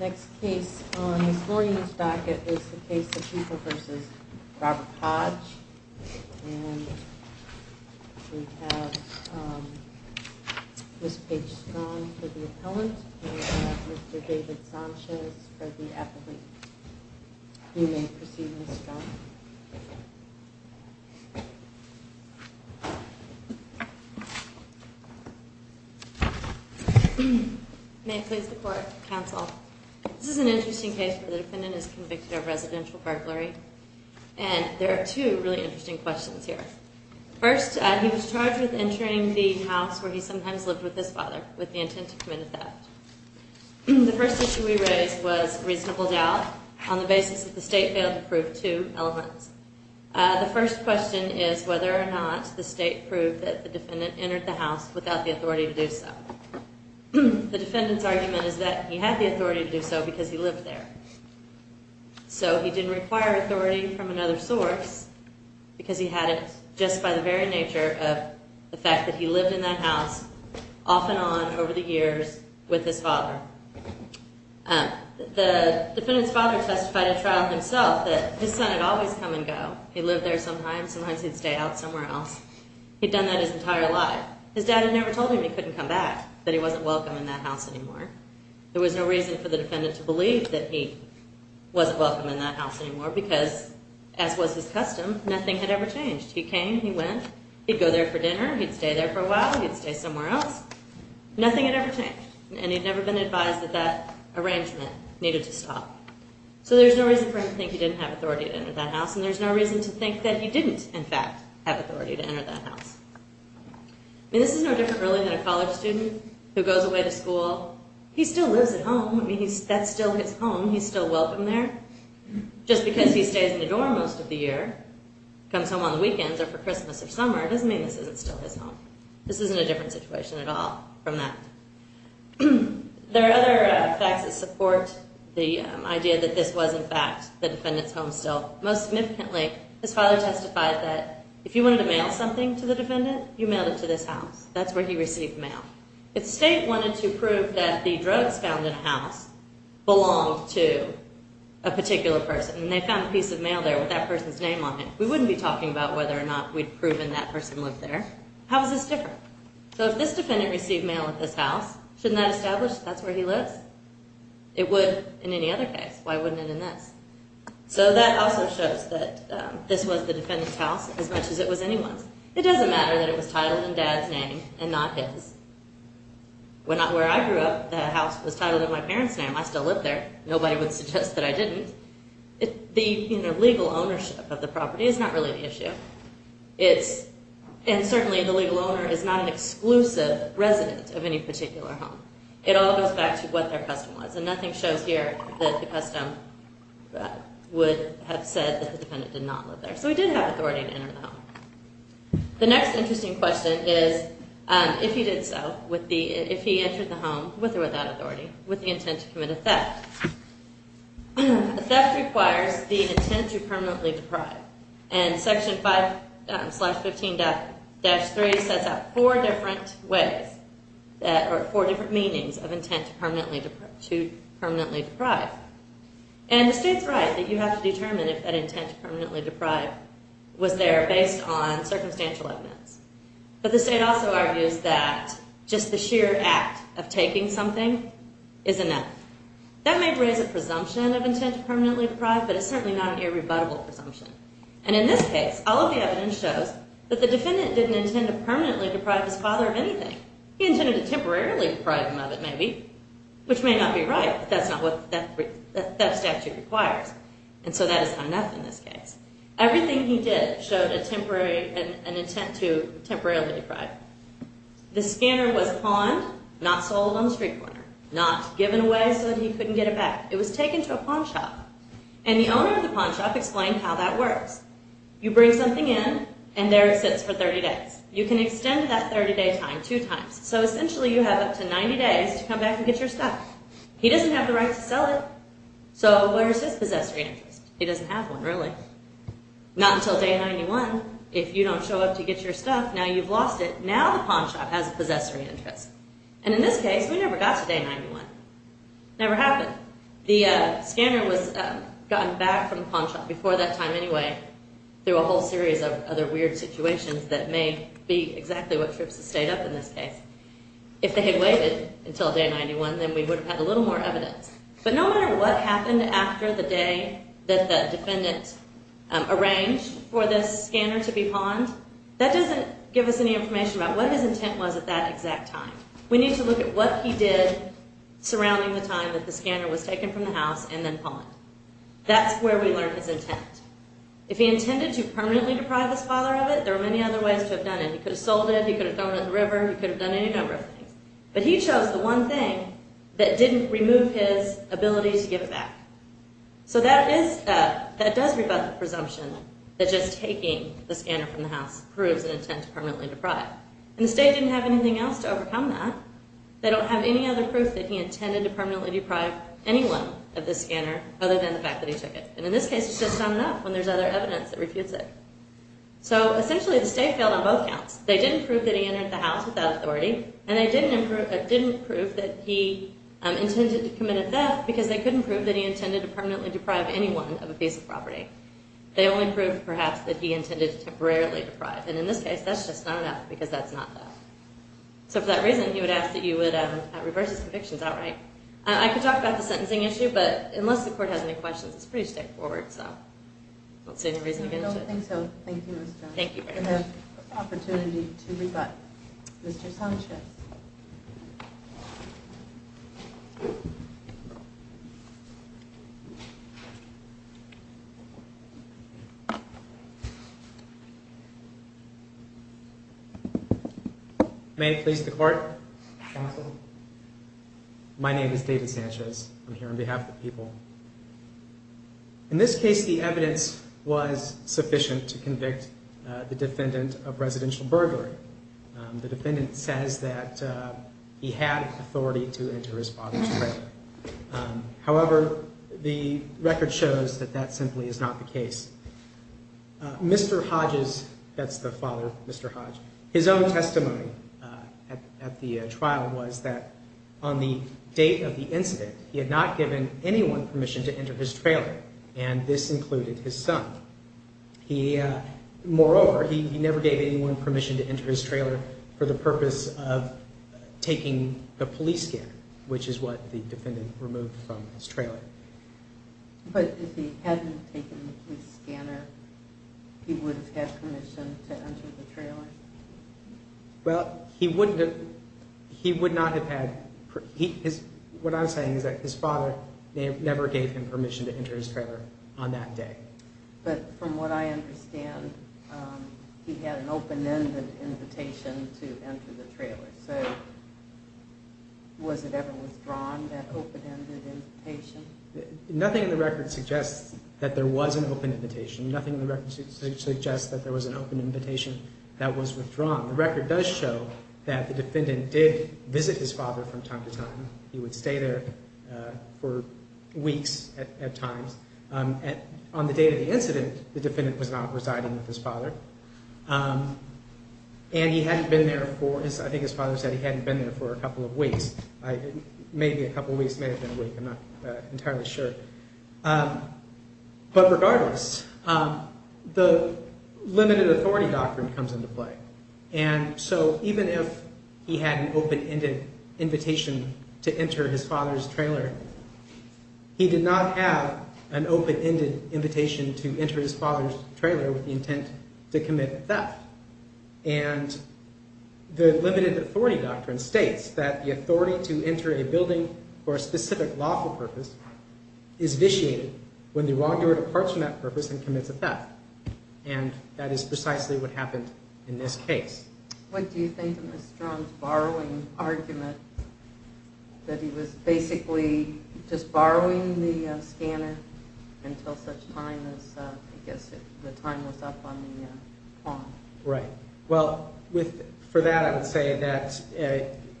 Next case on this morning's docket is the case of People v. Robert Hodge. And we have Ms. Paige Strong for the appellant and Mr. David Sanchez for the applicant. You may proceed, Ms. Strong. May it please the court, counsel. This is an interesting case where the defendant is convicted of residential burglary. And there are two really interesting questions here. First, he was charged with entering the house where he sometimes lived with his father with the intent to commit a theft. The first issue we raised was reasonable doubt on the basis that the state failed to prove two elements. The first question is whether or not the state proved that the defendant entered the house without the authority to do so. The defendant's argument is that he had the authority to do so because he lived there. So he didn't require authority from another source because he had it just by the very nature of the fact that he lived in that house off and on over the years with his father. The defendant's father testified at trial himself that his son had always come and go. He lived there sometimes. Sometimes he'd stay out somewhere else. He'd done that his entire life. His dad had never told him he couldn't come back, that he wasn't welcome in that house anymore. There was no reason for the defendant to believe that he wasn't welcome in that house anymore because, as was his custom, nothing had ever changed. He came, he went, he'd go there for dinner, he'd stay there for a while, he'd stay somewhere else, nothing had ever changed. And he'd never been advised that that arrangement needed to stop. So there's no reason for him to think he didn't have authority to enter that house, and there's no reason to think that he didn't, in fact, have authority to enter that house. I mean, this is no different really than a college student who goes away to school. He still lives at home. I mean, that's still his home. He's still welcome there. Just because he stays in the dorm most of the year, comes home on the weekends or for Christmas or summer, doesn't mean this isn't still his home. This isn't a different situation at all from that. There are other facts that support the idea that this was, in fact, the defendant's home still. Most significantly, his father testified that if you wanted to mail something to the defendant, you mailed it to this house. That's where he received the mail. If state wanted to prove that the drugs found in a house belonged to a particular person, and they found a piece of mail there with that person's name on it, we wouldn't be talking about whether or not we'd proven that person lived there. How is this different? So if this defendant received mail at this house, shouldn't that establish that's where he lives? It would in any other case. Why wouldn't it in this? So that also shows that this was the defendant's house as much as it was anyone's. It doesn't matter that it was titled in Dad's name and not his. Where I grew up, the house was titled in my parents' name. I still live there. Nobody would suggest that I didn't. The legal ownership of the property is not really the issue. And certainly the legal owner is not an exclusive resident of any particular home. It all goes back to what their custom was, and nothing shows here that the custom would have said that the defendant did not live there. So he did have authority to enter the home. The next interesting question is if he did so, if he entered the home with or without authority, with the intent to commit a theft. A theft requires the intent to permanently deprive. And Section 5.15-3 sets out four different ways, or four different meanings of intent to permanently deprive. And the state's right that you have to determine if that intent to permanently deprive was there based on circumstantial evidence. But the state also argues that just the sheer act of taking something is enough. That may raise a presumption of intent to permanently deprive, but it's certainly not an irrebuttable presumption. And in this case, all of the evidence shows that the defendant didn't intend to permanently deprive his father of anything. He intended to temporarily deprive him of it, maybe, which may not be right, but that's not what the theft statute requires. And so that is not enough in this case. Everything he did showed an intent to temporarily deprive. The scanner was pawned, not sold on the street corner, not given away so that he couldn't get it back. It was taken to a pawn shop. And the owner of the pawn shop explained how that works. You bring something in, and there it sits for 30 days. You can extend that 30-day time two times. So essentially you have up to 90 days to come back and get your stuff. He doesn't have the right to sell it, so where's his possessory interest? He doesn't have one, really. Not until day 91. If you don't show up to get your stuff, now you've lost it. Now the pawn shop has a possessory interest. And in this case, we never got to day 91. It never happened. The scanner was gotten back from the pawn shop before that time anyway through a whole series of other weird situations that may be exactly what trips the state up in this case. If they had waited until day 91, then we would have had a little more evidence. But no matter what happened after the day that the defendant arranged for this scanner to be pawned, that doesn't give us any information about what his intent was at that exact time. We need to look at what he did surrounding the time that the scanner was taken from the house and then pawned. That's where we learn his intent. If he intended to permanently deprive his father of it, there are many other ways to have done it. He could have sold it. He could have thrown it in the river. He could have done any number of things. But he chose the one thing that didn't remove his ability to give it back. So that does rebut the presumption that just taking the scanner from the house proves an intent to permanently deprive. And the state didn't have anything else to overcome that. They don't have any other proof that he intended to permanently deprive anyone of this scanner other than the fact that he took it. And in this case, it's just not enough when there's other evidence that refutes it. So essentially the state failed on both counts. They didn't prove that he entered the house without authority and they didn't prove that he intended to commit a theft because they couldn't prove that he intended to permanently deprive anyone of a piece of property. They only proved, perhaps, that he intended to temporarily deprive. And in this case, that's just not enough because that's not enough. So for that reason, he would ask that you would reverse his convictions outright. I could talk about the sentencing issue, but unless the court has any questions, it's pretty straightforward. So I don't see any reason to get into it. Thank you, Ms. Jones. Thank you very much. We have an opportunity to rebut Mr. Sanchez. May it please the court. My name is David Sanchez. I'm here on behalf of the people. In this case, the evidence was sufficient to convict the defendant of residential burglary. The defendant says that he had authority to enter his father's trailer. However, the record shows that that simply is not the case. Mr. Hodges, that's the father, Mr. Hodges, his own testimony at the trial was that on the date of the incident, he had not given anyone permission to enter his trailer. And this included his son. Moreover, he never gave anyone permission to enter his trailer for the purpose of taking the police scanner, which is what the defendant removed from his trailer. But if he hadn't taken the police scanner, he would have had permission to enter the trailer? Well, he would not have had... What I'm saying is that his father never gave him permission to enter his trailer on that day. But from what I understand, he had an open-ended invitation to enter the trailer. So, was it ever withdrawn, that open-ended invitation? Nothing in the record suggests that there was an open invitation. Nothing in the record suggests that there was an open invitation that was withdrawn. The record does show that the defendant did visit his father from time to time. He would stay there for weeks at times. On the date of the incident, the defendant was not residing with his father. And he hadn't been there for, I think his father said he hadn't been there for a couple of weeks. Maybe a couple of weeks, may have been a week, I'm not entirely sure. But regardless, the limited authority doctrine comes into play. And so, even if he had an open-ended invitation to enter his father's trailer, he did not have an open-ended invitation to enter his father's trailer with the intent to commit theft. And the limited authority doctrine states that the authority to enter a building for a specific lawful purpose is vitiated when the wrongdoer departs from that purpose and commits a theft. And that is precisely what happened in this case. What do you think of Mr. Armstrong's borrowing argument? That he was basically just borrowing the scanner until such time as, I guess, the time was up on the pawn. Right. Well, for that I would say that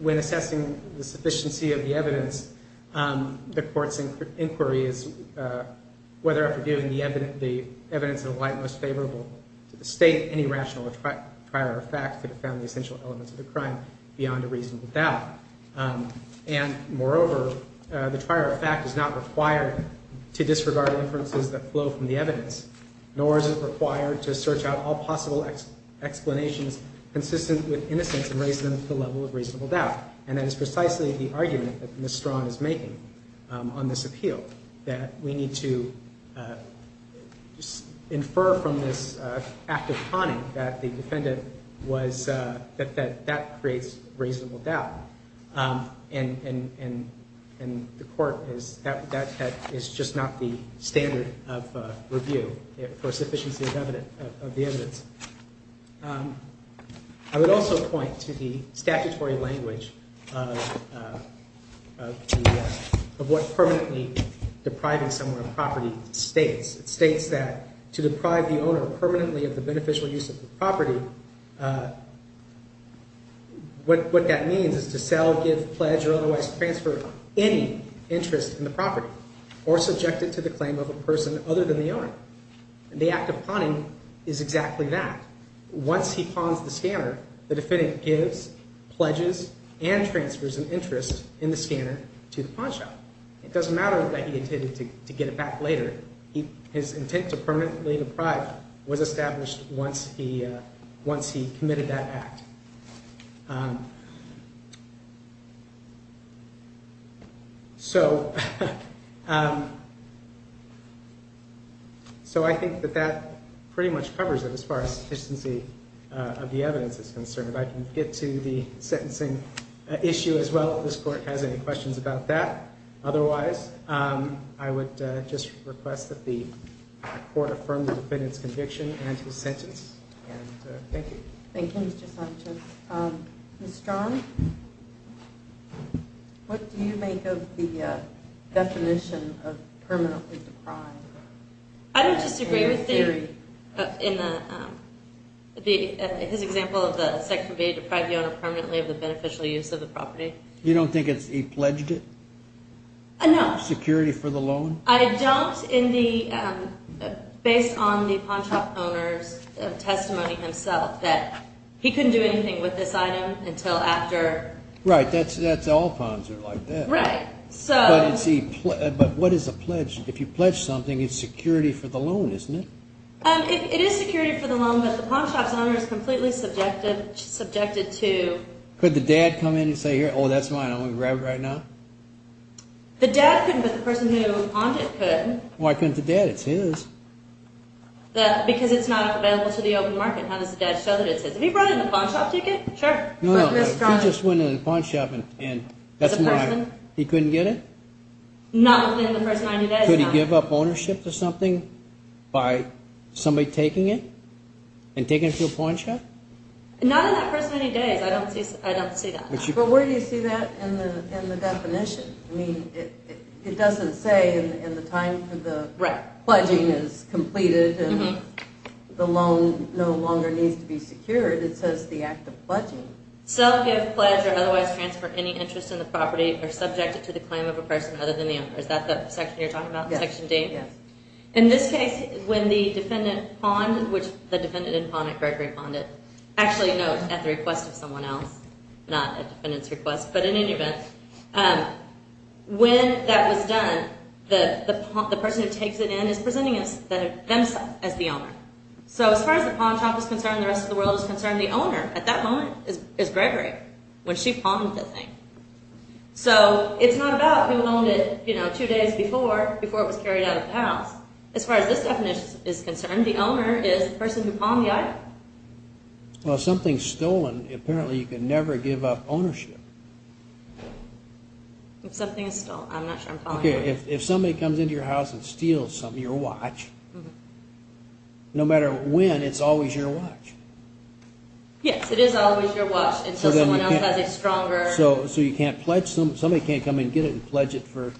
when assessing the sufficiency of the evidence, the court's inquiry is whether after giving the evidence in the light most favorable to the state, any rational or prior fact could have found the essential elements of the crime beyond a reasonable doubt. And moreover, the prior fact is not required to disregard inferences that flow from the evidence, nor is it required to search out all possible explanations consistent with innocence and raise them to the level of reasonable doubt. And that is precisely the argument that Ms. Strawn is making on this appeal, that we need to infer from this act of conning that the defendant was, that that creates reasonable doubt. And the court is, that is just not the standard of review for sufficiency of evidence, of the evidence. I would also point to the statutory language of what permanently depriving someone of property states. It states that to deprive the owner permanently of the beneficial use of the property, what that means is to sell, give, pledge, or otherwise transfer any interest in the property, or subject it to the claim of a person other than the owner. And the act of pawning is exactly that. Once he pawns the scanner, the defendant gives, pledges, and transfers an interest in the scanner to the pawnshop. It doesn't matter that he intended to get it back later. His intent to permanently deprive was established once he, once he committed that act. So, so I think that that pretty much covers it as far as sufficiency of the evidence is concerned. I can get to the sentencing issue as well if this court has any questions about that. Otherwise, I would just request that the court affirm the defendant's conviction and his sentence. Thank you. Thank you, Mr. Sanchez. Ms. Strachan, what do you make of the definition of permanently deprive? I don't disagree with the, in the, his example of the section B, deprive the owner permanently of the beneficial use of the property. You don't think he pledged it? No. Security for the loan? I don't in the, based on the pawnshop owner's testimony himself, that he couldn't do anything with this item until after. Right, that's, that's all pawns are like that. Right, so. But what is a pledge? If you pledge something, it's security for the loan, isn't it? It is security for the loan, but the pawnshop's owner is completely subjected, subjected to. Could the dad come in and say, here, oh, that's mine, I'm going to grab it right now? The dad couldn't, but the person who pawned it could. Why couldn't the dad? It's his. That, because it's not available to the open market. How does the dad show that it's his? Have you brought in the pawnshop ticket? Sure. No, no, he just went in the pawnshop and that's mine. He couldn't get it? Not within the first 90 days, no. Could he give up ownership to something by somebody taking it and taking it to a pawnshop? Not in that first 90 days. I don't see, I don't see that. But where do you see that in the definition? I mean, it doesn't say in the time that the pledging is completed and the loan no longer needs to be secured. It says the act of pledging. Self, give, pledge, or otherwise transfer any interest in the property or subject it to the claim of a person other than the owner. Is that the section you're talking about, section D? Yes. In this case, when the defendant pawned, which the defendant didn't pawn it, Gregory pawned it, actually no, at the request of someone else, not a defendant's request, but in any event, when that was done, the person who takes it in is presenting themselves as the owner. So as far as the pawnshop is concerned, the rest of the world is concerned, the owner at that moment is Gregory, when she pawned the thing. So it's not about who owned it two days before, before it was carried out of the house. As far as this definition is concerned, the owner is the person who pawned the item. Well, if something's stolen, apparently you can never give up ownership. If something is stolen, I'm not sure I'm following you. If somebody comes into your house and steals your watch, no matter when, it's always your watch. Yes, it is always your watch until someone else has a stronger... So you can't pledge, somebody can't come in and get it and pledge it for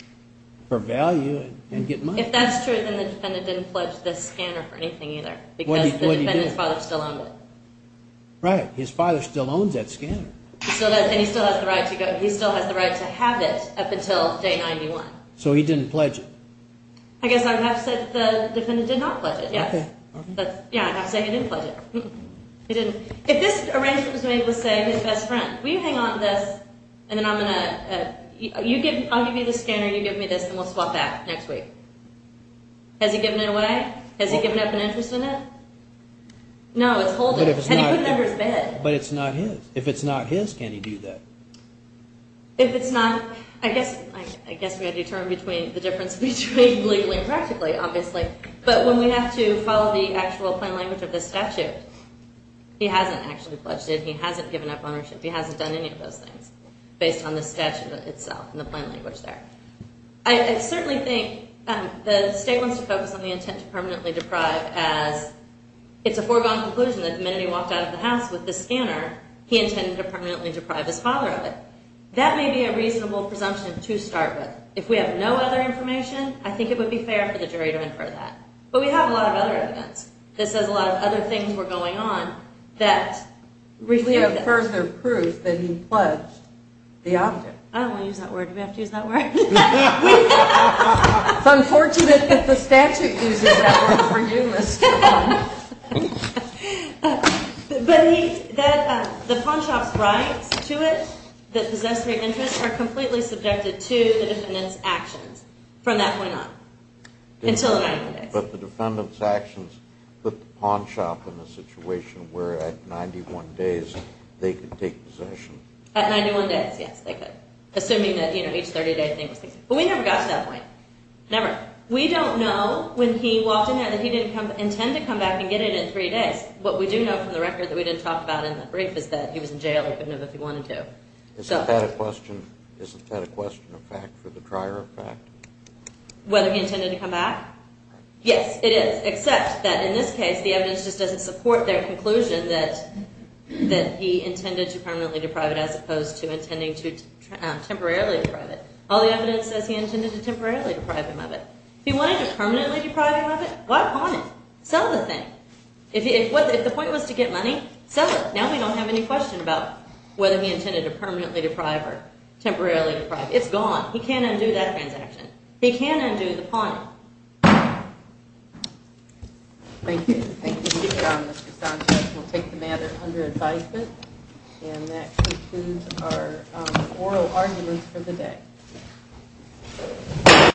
value and get money. If that's true, then the defendant didn't pledge the scanner for anything either. Because the defendant's father still owned it. Right, his father still owns that scanner. And he still has the right to have it up until day 91. So he didn't pledge it. I guess I'd have to say that the defendant did not pledge it, yes. Yeah, I'd have to say he didn't pledge it. He didn't. If this arrangement was made with, say, his best friend, will you hang on to this, and then I'm going to... I'll give you the scanner, you give me this, and we'll swap that next week. Has he given it away? Has he given up an interest in it? No, it's holding. Can he put it under his bed? But it's not his. If it's not his, can he do that? If it's not... I guess we have to determine the difference between legally and practically, obviously. But when we have to follow the actual plain language of the statute, he hasn't actually pledged it, he hasn't given up ownership, he hasn't done any of those things. Based on the statute itself and the plain language there. I certainly think the state wants to focus on the intent to permanently deprive as it's a foregone conclusion that the minute he walked out of the house with the scanner, he intended to permanently deprive his father of it. That may be a reasonable presumption to start with. If we have no other information, I think it would be fair for the jury to infer that. But we have a lot of other evidence that says a lot of other things were going on that reflect this. We have further proof that he pledged the object. I don't want to use that word. Do we have to use that word? It's unfortunate that the statute uses that word for you, Mr. Vaughn. But the pawnshop's rights to it, that possessory of interest, are completely subjected to the defendant's actions from that point on. Until the 91 days. But the defendant's actions put the pawnshop in a situation where at 91 days they could take possession. At 91 days, yes, they could. Assuming that, you know, each 30-day thing was taken. But we never got to that point. Never. We don't know when he walked in there that he didn't intend to come back and get it in three days. What we do know from the record that we didn't talk about in the brief is that he was in jail. He couldn't have if he wanted to. Isn't that a question of fact for the prior effect? Whether he intended to come back? Yes, it is. Except that in this case the evidence just doesn't support their conclusion that he intended to permanently deprive it as opposed to intending to temporarily deprive it. All the evidence says he intended to temporarily deprive him of it. If he wanted to permanently deprive him of it, why pawn it? Sell the thing. If the point was to get money, sell it. Now we don't have any question about whether he intended to permanently deprive or temporarily deprive. It's gone. He can't undo that transaction. He can't undo the pawning. Thank you. We'll take the matter under advisement. And that concludes our oral arguments for the day.